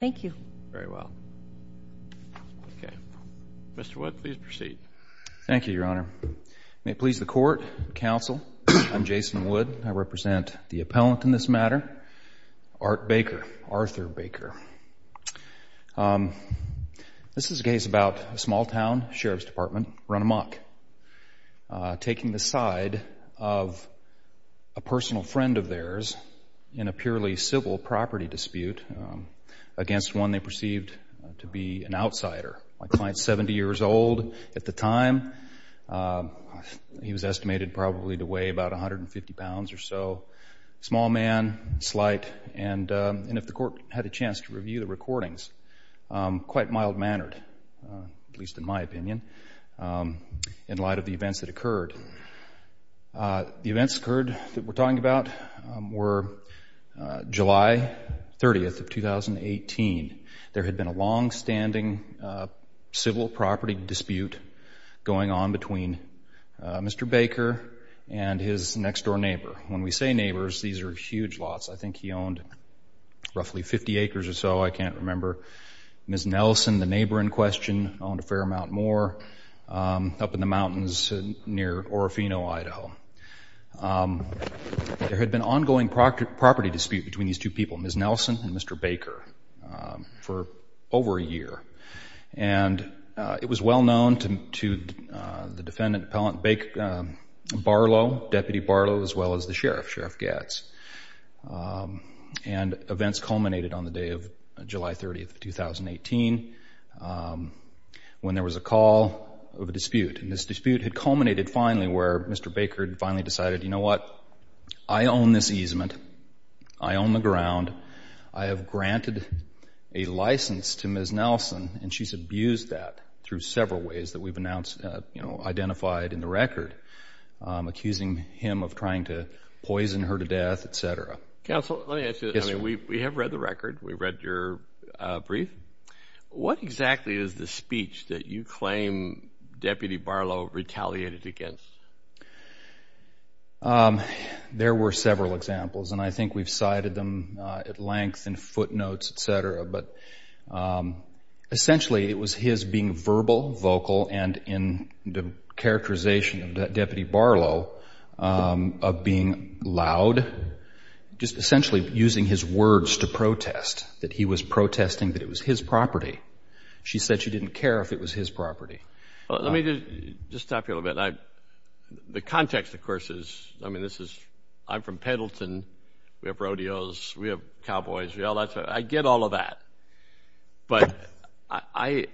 Thank you. Very well. Okay. Mr. Wood, please proceed. Thank you, Your Honor. May it please the Court, the Council, I'm Jason Wood. I represent the appellant in this matter, Art Baker, Arthur Baker. This is a case about a small town, Sheriff's Department, run amok, taking the side of a man against one they perceived to be an outsider, a client 70 years old at the time. He was estimated probably to weigh about 150 pounds or so, small man, slight, and if the Court had a chance to review the recordings, quite mild-mannered, at least in my opinion, The events occurred that we're talking about were July 30th of 2018. There had been a longstanding civil property dispute going on between Mr. Baker and his next-door neighbor. When we say neighbors, these are huge lots. I think he owned roughly 50 acres or so, I can't remember. Ms. Nelson, the neighbor in question, owned a fair amount more up in the mountains near Orofino, Idaho. There had been an ongoing property dispute between these two people, Ms. Nelson and Mr. Baker, for over a year. And it was well-known to the defendant appellant, Deputy Barlow, as well as the sheriff, Sheriff Gatz. And events culminated on the day of July 30th of 2018 when there was a call of a dispute. And this dispute had culminated finally where Mr. Baker finally decided, you know what, I own this easement, I own the ground, I have granted a license to Ms. Nelson, and she's abused that through several ways that we've identified in the record, accusing him of trying to poison her to death, et cetera. Counsel, let me ask you this. We have read the record. We've read your brief. What exactly is the speech that you claim Deputy Barlow retaliated against? There were several examples, and I think we've cited them at length in footnotes, et cetera. But essentially, it was his being verbal, vocal, and in the characterization of Deputy Barlow of being loud, just essentially using his words to protest, that he was protesting that it was his property. She said she didn't care if it was his property. Let me just stop you a little bit. The context, of course, is, I mean, this is, I'm from Pendleton. We have rodeos. We have cowboys. We have all that stuff. I get all of that. But I,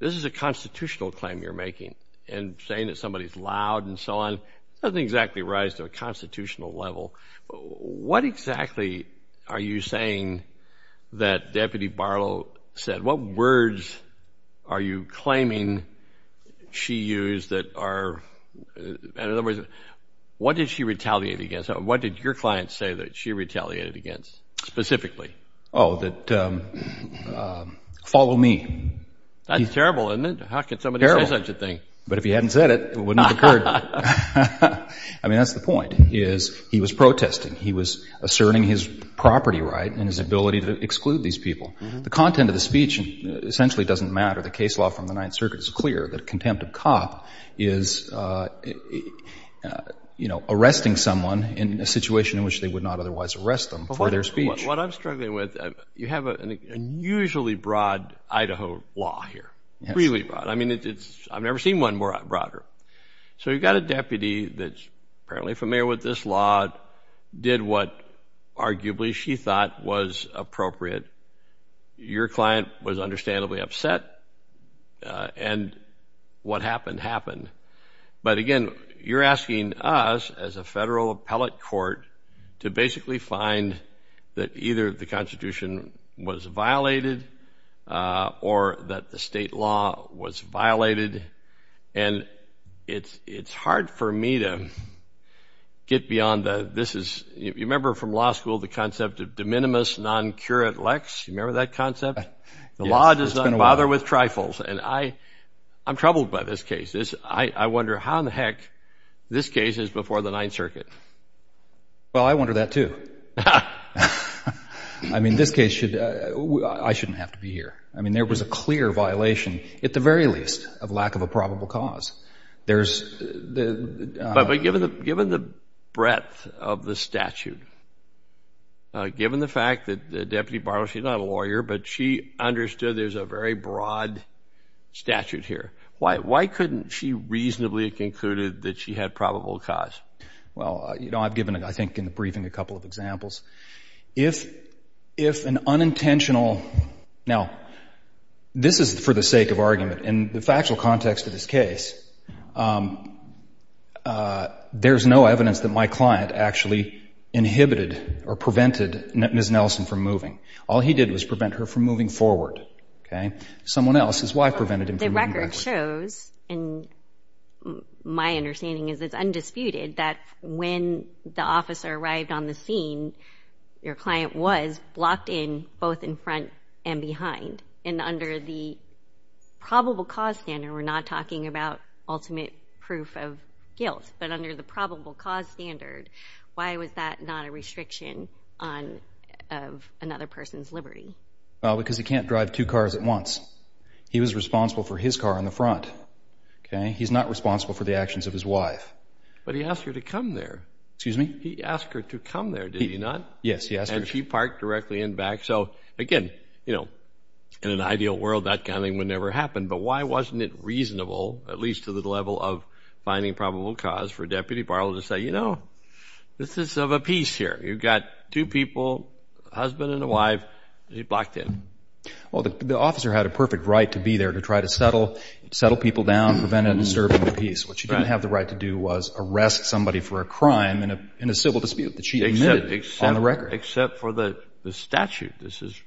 this is a constitutional claim you're making, and saying that somebody's loud and so on doesn't exactly rise to a constitutional level. What exactly are you saying that Deputy Barlow said? What words are you claiming she used that are, in other words, what did she retaliate against? What did your client say that she retaliated against, specifically? Oh, that, follow me. That's terrible, isn't it? How could somebody say such a thing? But if he hadn't said it, it wouldn't have occurred. I mean, that's the point, is he was protesting. He was asserting his property right and his ability to exclude these people. The content of the speech essentially doesn't matter. The case law from the Ninth Circuit is clear that a contempt of cop is, you know, arresting someone in a situation in which they would not otherwise arrest them for their speech. What I'm struggling with, you have an unusually broad Idaho law here, really broad. I mean, it's, I've never seen one broader. So you've got a deputy that's apparently familiar with this law, did what arguably she thought was appropriate. Your client was understandably upset, and what happened happened. But again, you're asking us as a federal appellate court to basically find that either the Constitution was violated or that the state law was violated. And it's hard for me to get beyond that. This is, you remember from law school, the concept of de minimis non curat lex, you remember that concept? The law does not bother with trifles. And I, I'm troubled by this case. I wonder how in the heck this case is before the Ninth Circuit. Well, I wonder that too. I mean, this case should, I shouldn't have to be here. I mean, there was a clear violation, at the very least, of lack of a probable cause. There's the, but given the, given the breadth of the statute, given the fact that the deputy borrowed, she's not a lawyer, but she understood there's a very broad statute here. Why couldn't she reasonably have concluded that she had probable cause? Well, you know, I've given, I think in the briefing, a couple of examples. If, if an unintentional, now, this is for the sake of argument, in the factual context of this case, there's no evidence that my client actually inhibited or prevented Ms. Nelson from moving. All he did was prevent her from moving forward. Okay. Someone else's wife prevented him from moving forward. That shows, and my understanding is it's undisputed, that when the officer arrived on the scene, your client was blocked in, both in front and behind, and under the probable cause standard, we're not talking about ultimate proof of guilt, but under the probable cause standard, why was that not a restriction on, of another person's liberty? Well, because he can't drive two cars at once. He was responsible for his car in the front. Okay. He's not responsible for the actions of his wife. But he asked her to come there. Excuse me? He asked her to come there, did he not? Yes, he asked her. And she parked directly in back. So again, you know, in an ideal world, that kind of thing would never happen, but why wasn't it reasonable, at least to the level of finding probable cause, for Deputy Barlow to say, you know, this is of a piece here. You've got two people, a husband and a wife, and he's blocked in. Well, the officer had a perfect right to be there to try to settle, settle people down, prevent a disturbance of peace. What she didn't have the right to do was arrest somebody for a crime in a civil dispute that she admitted on the record. Except for the statute. This is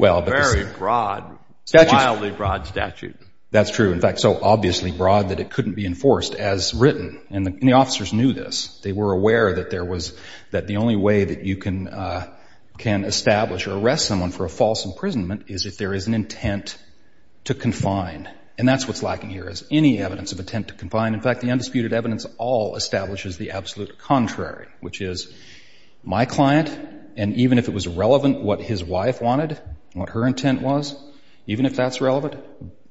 a very broad, wildly broad statute. That's true. In fact, so obviously broad that it couldn't be enforced as written, and the officers knew this. They were aware that there was, that the only way that you can establish or arrest someone for a false imprisonment is if there is an intent to confine. And that's what's lacking here, is any evidence of intent to confine. In fact, the undisputed evidence all establishes the absolute contrary, which is my client, and even if it was relevant what his wife wanted, what her intent was, even if that's relevant,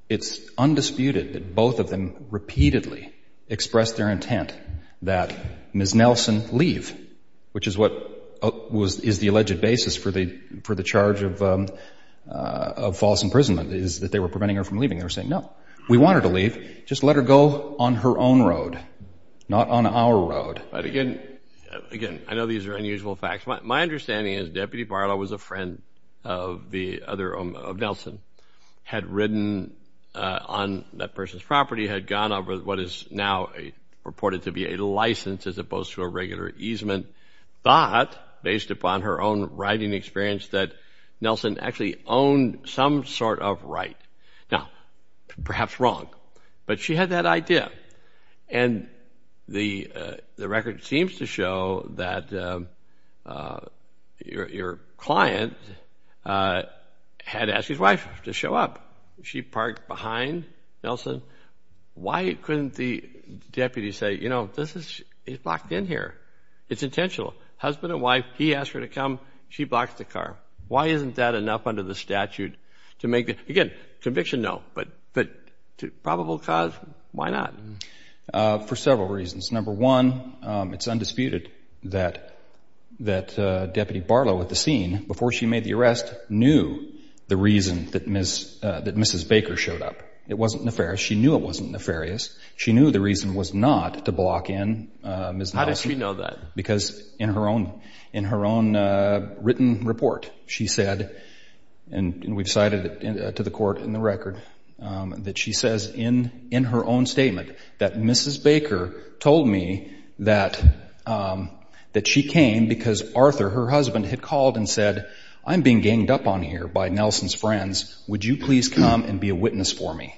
it's undisputed that both of them repeatedly expressed their intent that Ms. of false imprisonment is that they were preventing her from leaving. They were saying, no, we want her to leave. Just let her go on her own road. Not on our road. But again, again, I know these are unusual facts. My understanding is Deputy Barlow was a friend of the other, of Nelson, had ridden on that person's property, had gone over what is now reported to be a license as opposed to a regular easement. But, based upon her own riding experience, that Nelson actually owned some sort of right. Now, perhaps wrong. But she had that idea. And the record seems to show that your client had asked his wife to show up. She parked behind Nelson. Why couldn't the deputy say, you know, he's locked in here? It's intentional. Husband and wife. He asked her to come. She blocks the car. Why isn't that enough under the statute to make the, again, conviction, no, but to probable cause, why not? For several reasons. Number one, it's undisputed that Deputy Barlow at the scene, before she made the arrest, knew the reason that Mrs. Baker showed up. It wasn't nefarious. She knew the reason was not to block in Ms. Nelson. How did she know that? Because in her own written report, she said, and we've cited it to the court in the record, that she says in her own statement that Mrs. Baker told me that she came because Arthur, her husband, had called and said, I'm being ganged up on here by Nelson's friends. Would you please come and be a witness for me?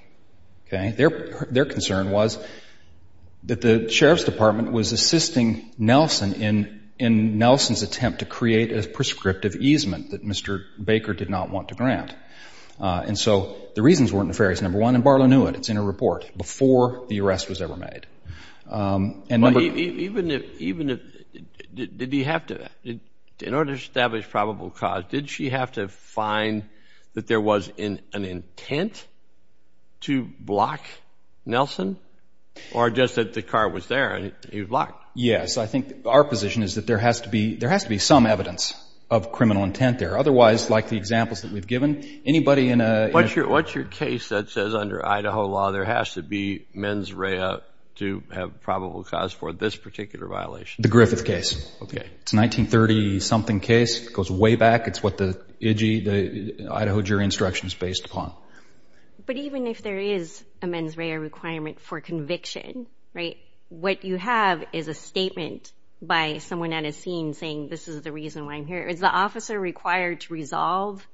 Okay. Their concern was that the Sheriff's Department was assisting Nelson in Nelson's attempt to create a prescriptive easement that Mr. Baker did not want to grant. And so the reasons weren't nefarious, number one, and Barlow knew it. It's in her report, before the arrest was ever made. And number- Even if, did he have to, in order to establish probable cause, did she have to find that there was an intent to block Nelson, or just that the car was there and he was blocked? Yes. I think our position is that there has to be, there has to be some evidence of criminal intent there. Otherwise, like the examples that we've given, anybody in a- What's your case that says under Idaho law, there has to be mens rea to have probable cause for this particular violation? The Griffith case. Okay. It's a 1930-something case, goes way back. It's what the Idaho jury instruction is based upon. But even if there is a mens rea requirement for conviction, right? What you have is a statement by someone at a scene saying, this is the reason why I'm here. Is the officer required to resolve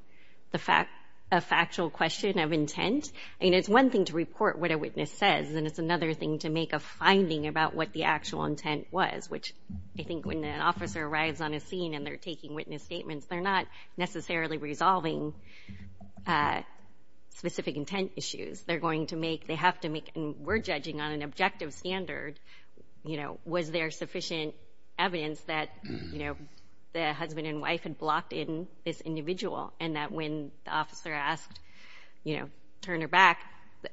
the fact, a factual question of intent? I mean, it's one thing to report what a witness says, and it's another thing to make a finding about what the actual intent was, which I think when an officer arrives on a scene and they're taking witness statements, they're not necessarily resolving specific intent issues. They're going to make, they have to make, and we're judging on an objective standard, you know, was there sufficient evidence that, you know, the husband and wife had blocked in this individual, and that when the officer asked, you know, to turn her back,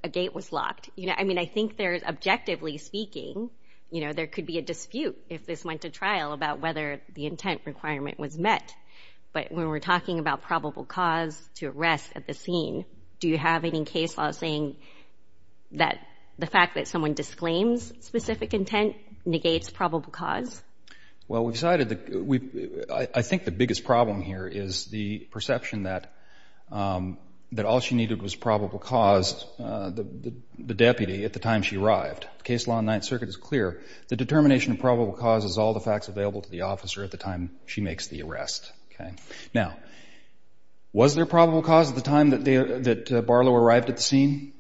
a gate was locked. You know, I mean, I think there's, objectively speaking, you know, there could be a dispute if this went to trial about whether the intent requirement was met, but when we're talking about probable cause to arrest at the scene, do you have any case law saying that the fact that someone disclaims specific intent negates probable cause? Well, we decided that we, I think the biggest problem here is the perception that all she needed was probable cause, the deputy at the time she arrived. The case law in the Ninth Circuit is clear. The determination of probable cause is all the facts available to the officer at the time she makes the arrest, okay? Now, was there probable cause at the time that Barlow arrived at the scene?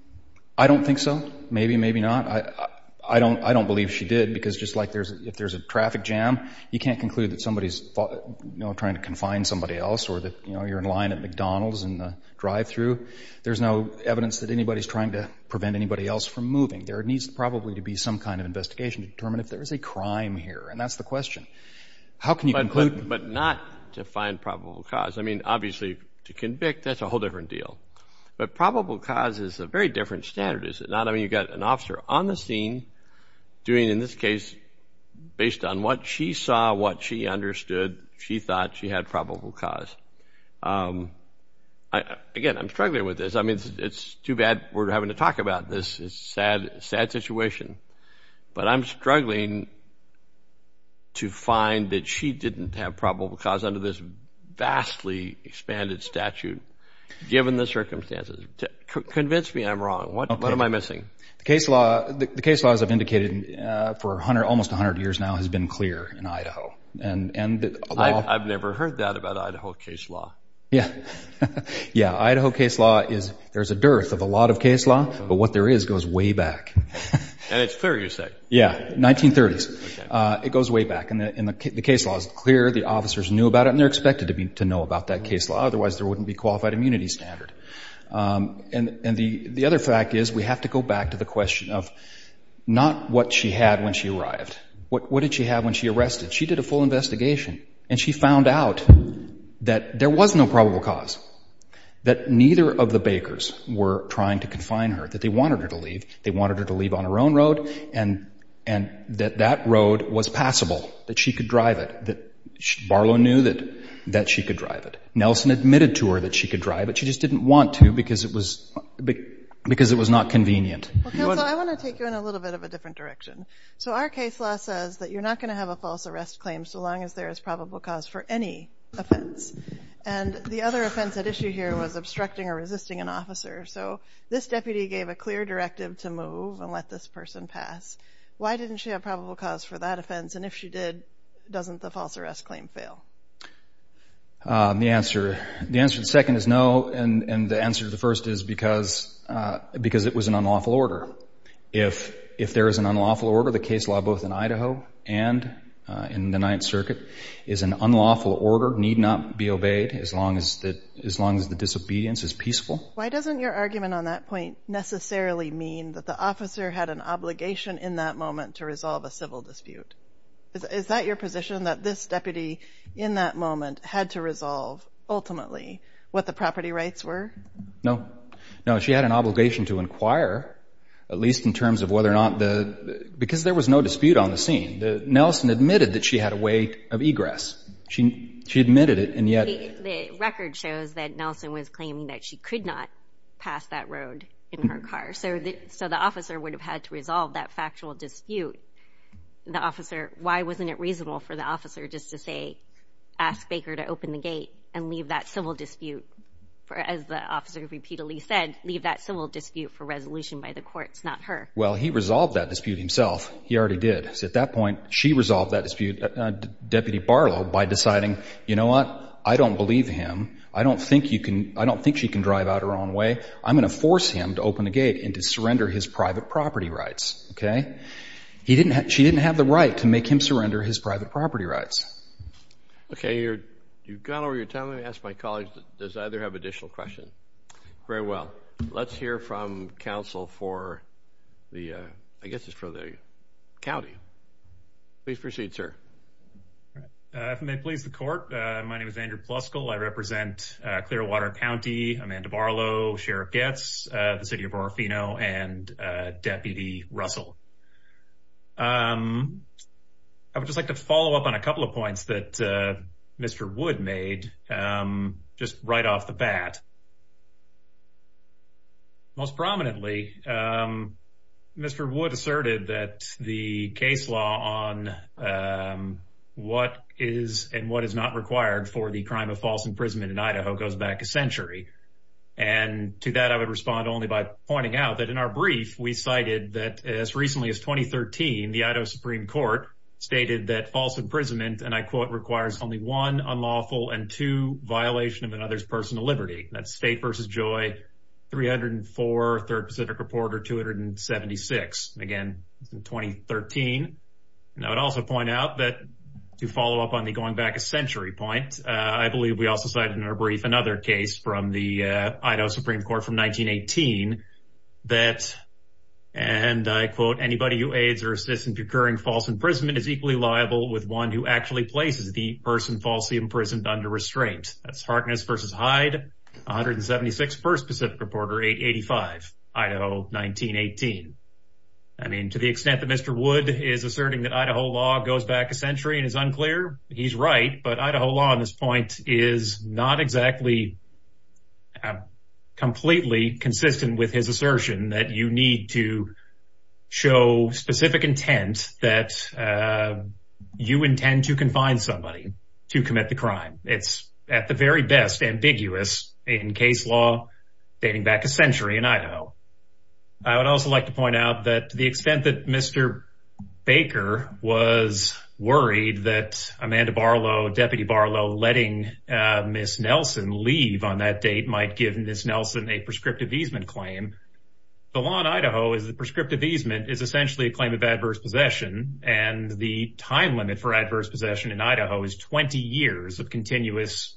I don't think so. Maybe, maybe not. I don't believe she did because just like if there's a traffic jam, you can't conclude that somebody's, you know, trying to confine somebody else or that, you know, you're in line at McDonald's in the drive-through. There's no evidence that anybody's trying to prevent anybody else from moving. There needs probably to be some kind of investigation to determine if there is a crime here and that's the question. How can you conclude? But not to find probable cause. I mean, obviously, to convict, that's a whole different deal. But probable cause is a very different standard, is it not? I mean, you've got an officer on the scene doing, in this case, based on what she saw, what she understood, she thought she had probable cause. Again, I'm struggling with this. I mean, it's too bad we're having to talk about this. It's a sad, sad situation. But I'm struggling to find that she didn't have probable cause under this vastly expanded statute given the circumstances. Convince me I'm wrong. What am I missing? The case law, the case laws I've indicated for almost 100 years now has been clear in Idaho. I've never heard that about Idaho case law. Yeah. Yeah. The case law is, there's a dearth of a lot of case law, but what there is goes way back. And it's clear, you said. Yeah. 1930s. It goes way back. And the case law is clear. The officers knew about it and they're expected to know about that case law. Otherwise, there wouldn't be qualified immunity standard. And the other fact is we have to go back to the question of not what she had when she arrived. What did she have when she arrested? She did a full investigation and she found out that there was no probable cause. That neither of the bakers were trying to confine her, that they wanted her to leave. They wanted her to leave on her own road and that that road was passable, that she could drive it, that Barlow knew that she could drive it. Nelson admitted to her that she could drive it, she just didn't want to because it was not convenient. Well, counsel, I want to take you in a little bit of a different direction. So our case law says that you're not going to have a false arrest claim so long as there is probable cause for any offense. And the other offense at issue here was obstructing or resisting an officer. So this deputy gave a clear directive to move and let this person pass. Why didn't she have probable cause for that offense? And if she did, doesn't the false arrest claim fail? The answer to the second is no. And the answer to the first is because it was an unlawful order. If there is an unlawful order, the case law both in Idaho and in the Ninth Circuit is an unlawful order. The court need not be obeyed as long as the disobedience is peaceful. Why doesn't your argument on that point necessarily mean that the officer had an obligation in that moment to resolve a civil dispute? Is that your position, that this deputy in that moment had to resolve ultimately what the property rights were? No. No, she had an obligation to inquire, at least in terms of whether or not the... Because there was no dispute on the scene. Nelson admitted that she had a way of egress. She admitted it, and yet... The record shows that Nelson was claiming that she could not pass that road in her car. So the officer would have had to resolve that factual dispute. The officer... Why wasn't it reasonable for the officer just to say, ask Baker to open the gate and leave that civil dispute, as the officer repeatedly said, leave that civil dispute for resolution by the courts, not her? Well, he resolved that dispute himself. He already did. So at that point, she resolved that dispute, Deputy Barlow, by deciding, you know what? I don't believe him. I don't think you can... I don't think she can drive out her own way. I'm going to force him to open the gate and to surrender his private property rights, okay? He didn't... She didn't have the right to make him surrender his private property rights. Okay, you've gone over your time. Let me ask my colleagues, does either have additional questions? Very well. Let's hear from counsel for the, I guess it's for the county. Please proceed, sir. If it may please the court, my name is Andrew Pluskill. I represent Clearwater County, Amanda Barlow, Sheriff Goetz, the City of Orofino, and Deputy Russell. I would just like to follow up on a couple of points that Mr. Wood made, just right off the bat. Most prominently, Mr. Wood asserted that the case law on what is and what is not required for the crime of false imprisonment in Idaho goes back a century. And to that, I would respond only by pointing out that in our brief, we cited that as recently as 2013, the Idaho Supreme Court stated that false imprisonment, and I quote, requires only one, unlawful, and two, violation of another's personal liberty. That's State v. Joy, 304, Third Pacific Reporter, 276. Again, it's in 2013. And I would also point out that to follow up on the going back a century point, I believe we also cited in our brief another case from the Idaho Supreme Court from 1918 that, and I quote, anybody who aids or assists in procuring false imprisonment is equally liable with one who actually places the person falsely imprisoned under restraint. That's Harkness v. Hyde, 176, First Pacific Reporter, 885, Idaho, 1918. I mean, to the extent that Mr. Wood is asserting that Idaho law goes back a century and is unclear, he's right. But Idaho law on this point is not exactly completely consistent with his assertion that you need to show specific intent that you intend to confine somebody to commit the very best, ambiguous, in case law dating back a century in Idaho. I would also like to point out that to the extent that Mr. Baker was worried that Amanda Barlow, Deputy Barlow, letting Ms. Nelson leave on that date might give Ms. Nelson a prescriptive easement claim, the law in Idaho is the prescriptive easement is essentially a claim of adverse possession. And the time limit for adverse possession in Idaho is 20 years of continuous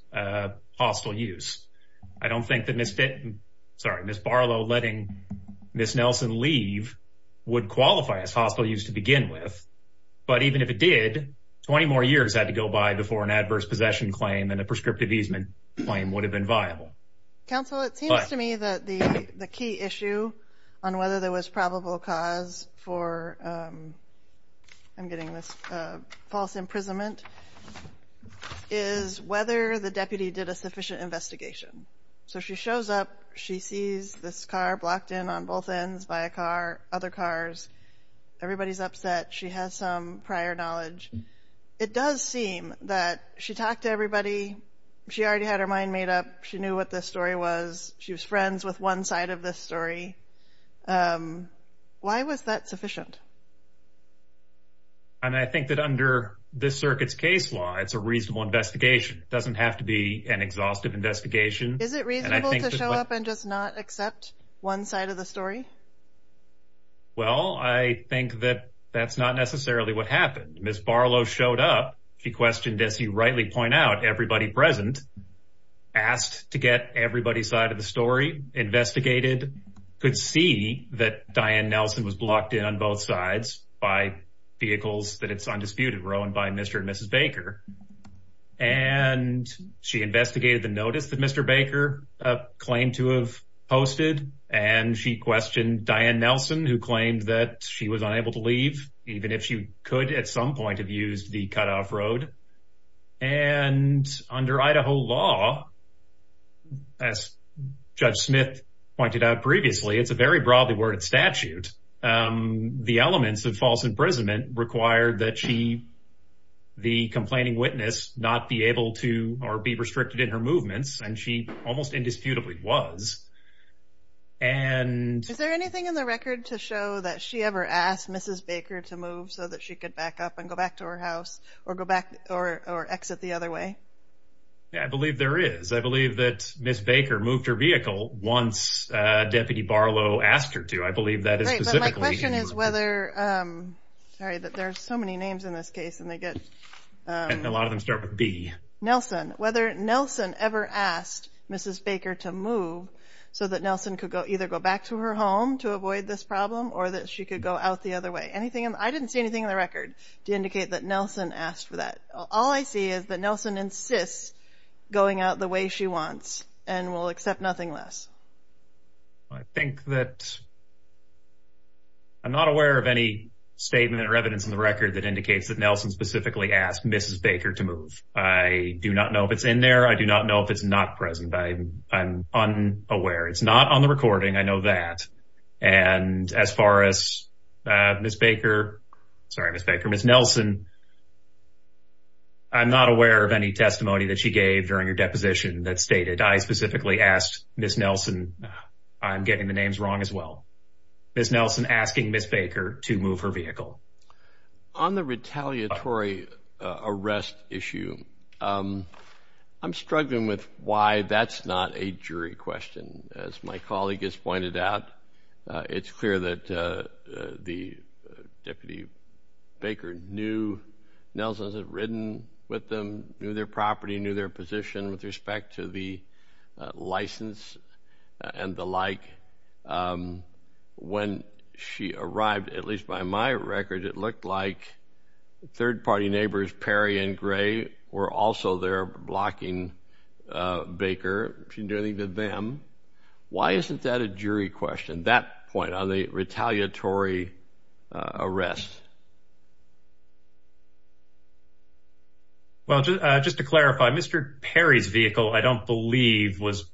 hostile use. I don't think that Ms. Barlow letting Ms. Nelson leave would qualify as hostile use to begin with. But even if it did, 20 more years had to go by before an adverse possession claim and Council, it seems to me that the key issue on whether there was probable cause for I'm getting this false imprisonment is whether the deputy did a sufficient investigation. So she shows up. She sees this car blocked in on both ends by a car, other cars. Everybody's upset. She has some prior knowledge. It does seem that she talked to everybody. She already had her mind made up. She knew what this story was. She was friends with one side of this story. Why was that sufficient? And I think that under this circuit's case law, it's a reasonable investigation. It doesn't have to be an exhaustive investigation. Is it reasonable to show up and just not accept one side of the story? Well, I think that that's not necessarily what happened. Ms. Barlow showed up. She questioned, as you rightly point out, everybody present, asked to get everybody's side of the story, investigated, could see that Diane Nelson was blocked in on both sides by vehicles that it's undisputed were owned by Mr. and Mrs. Baker. And she investigated the notice that Mr. Baker claimed to have posted. And she questioned Diane Nelson, who claimed that she was unable to leave, even if she could at some point have used the cutoff road. And under Idaho law, as Judge Smith pointed out previously, it's a very broadly worded statute. The elements of false imprisonment required that she, the complaining witness, not be able to or be restricted in her movements. And she almost indisputably was. And is there anything in the record to show that she ever asked Mrs. Baker to move so that she could back up and go back to her house or go back or exit the other way? I believe there is. I believe that Ms. Baker moved her vehicle once Deputy Barlow asked her to. I believe that is specifically. My question is whether, sorry, that there's so many names in this case and they get. A lot of them start with B. Nelson, whether Nelson ever asked Mrs. Baker to move so that Nelson could go either go back to her home to avoid this problem or that she could go out the other way. I didn't see anything in the record to indicate that Nelson asked for that. All I see is that Nelson insists going out the way she wants and will accept nothing less. I think that. I'm not aware of any statement or evidence in the record that indicates that Nelson specifically asked Mrs. Baker to move. I do not know if it's in there. I do not know if it's not present. I'm unaware. It's not on the recording. I know that. And as far as Ms. Baker, sorry, Ms. Baker, Ms. Nelson. I'm not aware of any testimony that she gave during her deposition that stated I specifically asked Ms. Nelson, I'm getting the names wrong as well, Ms. Nelson asking Ms. Baker to move her vehicle. On the retaliatory arrest issue, I'm struggling with why that's not a jury question. As my colleague has pointed out, it's clear that the Deputy Baker knew Nelson's had ridden with them, knew their property, knew their position with respect to the license and the like. When she arrived, at least by my record, it looked like third party neighbors, Perry and Gray, were also there blocking Baker. She didn't do anything to them. Why isn't that a jury question, that point on the retaliatory arrest? Well, just to clarify, Mr. Perry's vehicle, I don't believe was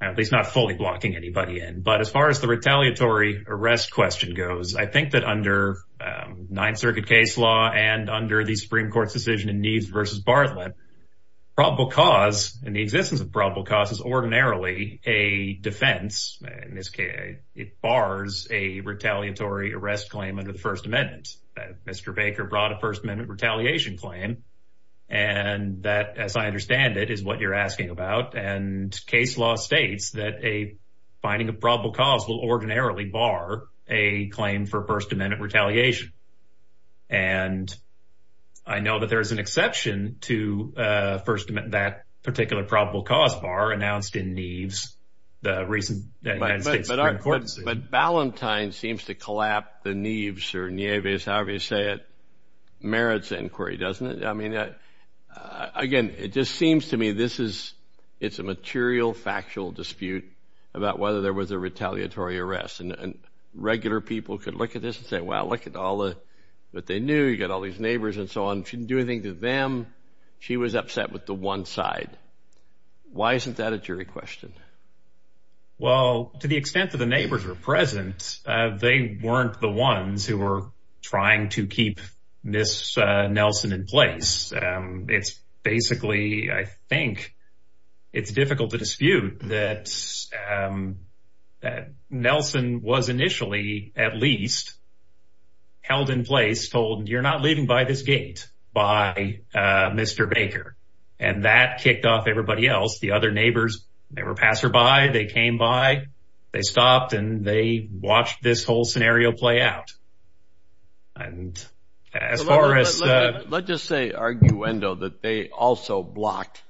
at least not fully blocking anybody in. But as far as the retaliatory arrest question goes, I think that under Ninth Circuit case law and under the Supreme Court's decision in Neves versus Bartlett, probable cause and the existence of probable cause is ordinarily a defense. In this case, it bars a retaliatory arrest claim under the First Amendment. Mr. Baker brought a First Amendment retaliation claim and that, as I understand it, is what you're asking about. And case law states that a finding of probable cause will ordinarily bar a claim for First Amendment retaliation. And I know that there is an exception to First Amendment, that particular probable cause bar announced in Neves, the reason. But Ballantyne seems to collapse the Neves or Neves, however you say it, merits inquiry, doesn't it? I mean, again, it just seems to me this is it's a material factual dispute about whether there was a retaliatory arrest. And regular people could look at this and say, well, look at all that they knew. You got all these neighbors and so on. She didn't do anything to them. She was upset with the one side. Why isn't that a jury question? Well, to the extent that the neighbors were present, they weren't the ones who were trying to keep Miss Nelson in place. It's basically, I think it's difficult to dispute that Nelson was initially at least held in place, told you're not leaving by this gate by Mr. Baker. And that kicked off everybody else. The other neighbors, they were passerby. They came by, they stopped and they watched this whole scenario play out. And as far as let's just say arguendo that they also blocked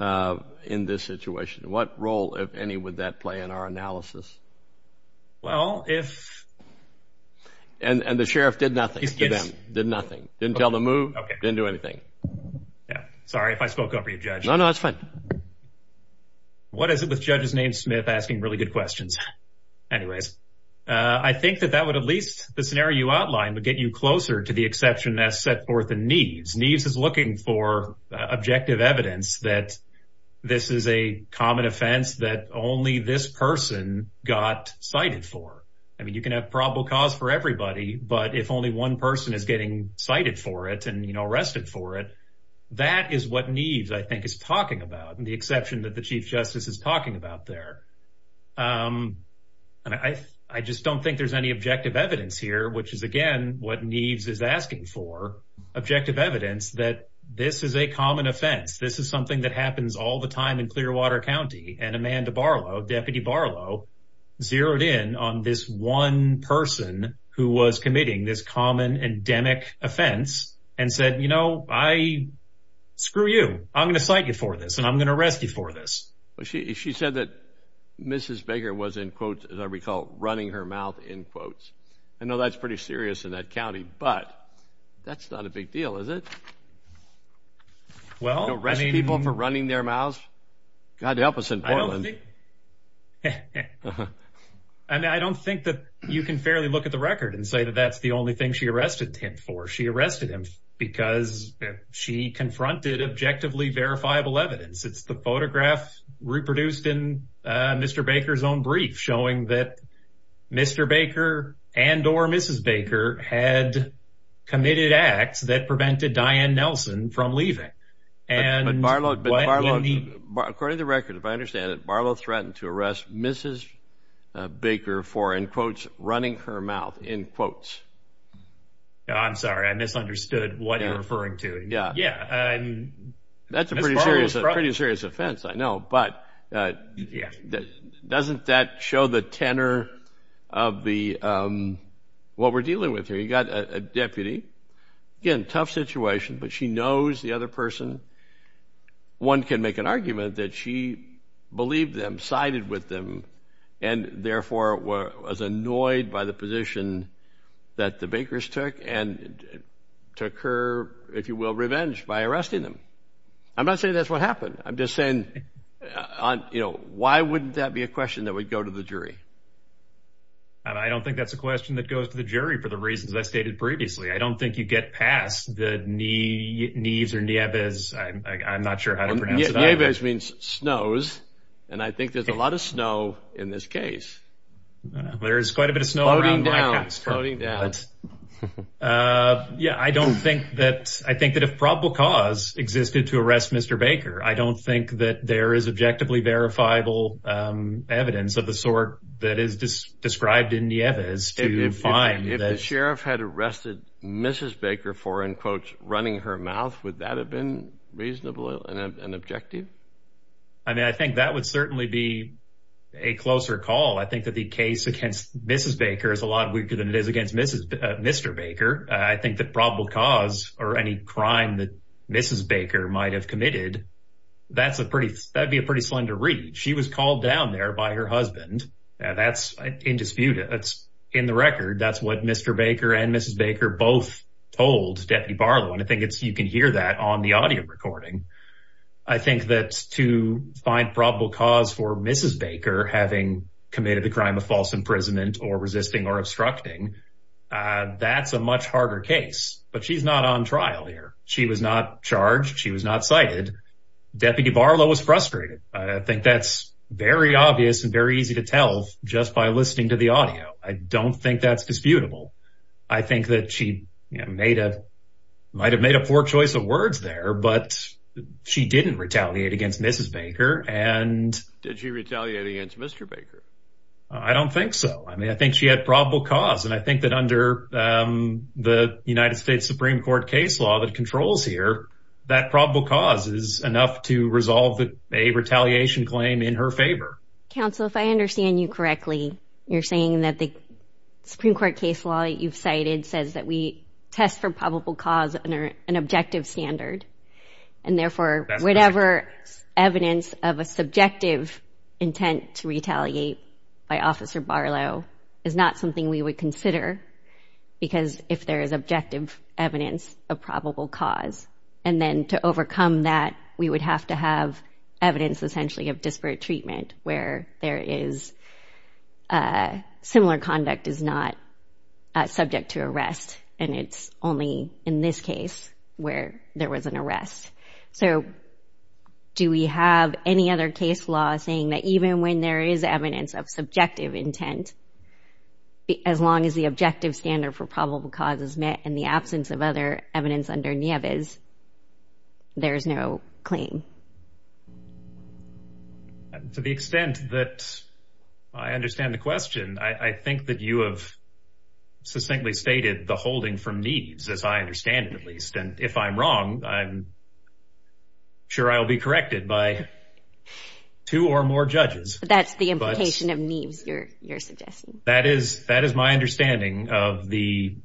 in this situation, what role, if any, would that play in our analysis? Well, if and the sheriff did nothing to them, did nothing, didn't tell the move, didn't do anything. Sorry if I spoke up for you, Judge. No, no, that's fine. What is it with judges named Smith asking really good questions? Anyways, I think that that would at least, the scenario you outlined, would get you closer to the exception that's set forth in Neves. Neves is looking for objective evidence that this is a common offense that only this person got cited for. I mean, you can have probable cause for everybody, but if only one person is getting cited for it and arrested for it, that is what Neves, I think, is talking about. And the exception that the Chief Justice is talking about there. And I just don't think there's any objective evidence here, which is, again, what Neves is asking for, objective evidence that this is a common offense. This is something that happens all the time in Clearwater County. And Amanda Barlow, Deputy Barlow, zeroed in on this one person who was committing this common endemic offense and said, you know, I screw you. I'm going to cite you for this and I'm going to arrest you for this. She said that Mrs. Baker was, in quotes, as I recall, running her mouth, in quotes. I know that's pretty serious in that county, but that's not a big deal, is it? Well, arresting people for running their mouths? God help us in Portland. And I don't think that you can fairly look at the record and say that that's the only thing she arrested him for. She arrested him because she confronted objectively verifiable evidence. It's the photograph reproduced in Mr. Baker's own brief, showing that Mr. Baker and or Mrs. Baker had committed acts that prevented Diane Nelson from leaving. And Barlow, according to the record, if I understand it, Barlow threatened to arrest Mrs. Baker for, in quotes, running her mouth, in quotes. I'm sorry, I misunderstood what you're referring to. Yeah, yeah. That's a pretty serious offense, I know, but doesn't that show the tenor of what we're dealing with here? You got a deputy, again, tough situation, but she knows the other person. One can make an argument that she believed them, sided with them, and therefore was annoyed by the position that the Bakers took and took her, if you will, revenge by arresting them. I'm not saying that's what happened. I'm just saying, you know, why wouldn't that be a question that would go to the jury? I don't think that's a question that goes to the jury for the reasons I stated previously. I don't think you get past the Neves or Nieves, I'm not sure how to pronounce it either. Nieves means snows, and I think there's a lot of snow in this case. There is quite a bit of snow around my house. Floating down. But, yeah, I don't think that, I think that if probable cause existed to arrest Mr. Baker, I don't think that there is objectively verifiable evidence of the sort that is described in Nieves to find that. If the sheriff had arrested Mrs. Baker for, in quotes, running her mouth, would that have been reasonable and objective? I mean, I think that would certainly be a closer call. I think that the case against Mrs. Mr. Baker, I think that probable cause or any crime that Mrs. Baker might have committed, that's a pretty, that'd be a pretty slender read. She was called down there by her husband and that's indisputable. That's in the record. That's what Mr. Baker and Mrs. Baker both told Deputy Barlow. And I think it's, you can hear that on the audio recording. I think that to find probable cause for Mrs. Baker, having committed the crime of false imprisonment or resisting or that's a much harder case, but she's not on trial here. She was not charged. She was not cited. Deputy Barlow was frustrated. I think that's very obvious and very easy to tell just by listening to the audio. I don't think that's disputable. I think that she might have made a poor choice of words there, but she didn't retaliate against Mrs. Baker. And- Did she retaliate against Mr. Baker? I don't think so. I mean, I think she had probable cause. And I think that under the United States Supreme Court case law that controls here, that probable cause is enough to resolve a retaliation claim in her favor. Counsel, if I understand you correctly, you're saying that the Supreme Court case law that you've cited says that we test for probable cause under an objective standard. And therefore, whatever evidence of a subjective intent to retaliate by is not something we would consider because if there is objective evidence of probable cause. And then to overcome that, we would have to have evidence essentially of disparate treatment where there is similar conduct is not subject to arrest. And it's only in this case where there was an arrest. So do we have any other case law saying that even when there is evidence of as long as the objective standard for probable cause is met in the absence of other evidence under Nieves, there is no claim? To the extent that I understand the question, I think that you have succinctly stated the holding from Nieves, as I understand it, at least. And if I'm wrong, I'm sure I'll be corrected by two or more judges. That's the implication of Nieves, your suggestion. That is my understanding of the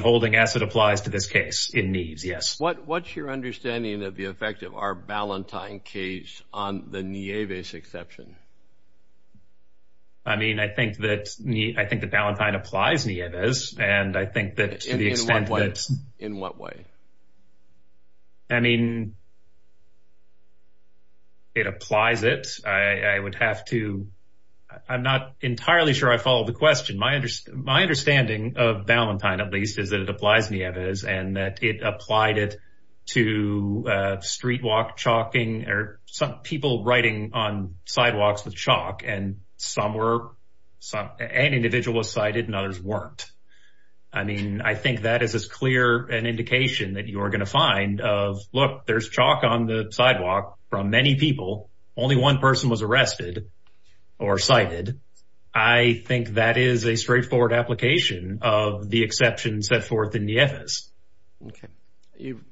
holding as it applies to this case in Nieves, yes. What's your understanding of the effect of our Ballantyne case on the Nieves exception? I mean, I think that Ballantyne applies Nieves. And I think that to the extent that... In what way? I mean, it applies it. I would have to... I'm not entirely sure I follow the question. My understanding of Ballantyne, at least, is that it applies Nieves and that it applied it to street walk chalking or some people writing on sidewalks with chalk. And some were, an individual was cited and others weren't. I mean, I think that is as clear an indication that you are going to find of, look, there's chalk on the sidewalk from many people. Only one person was arrested or cited. I think that is a straightforward application of the exception set forth in Nieves. Okay. You've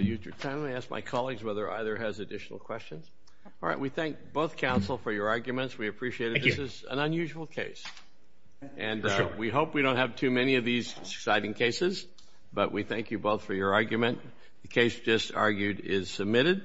used your time. Let me ask my colleagues whether either has additional questions. All right. We thank both counsel for your arguments. We appreciate it. This is an unusual case. And we hope we don't have too many of these exciting cases. But we thank you both for your argument. The case you just argued is submitted.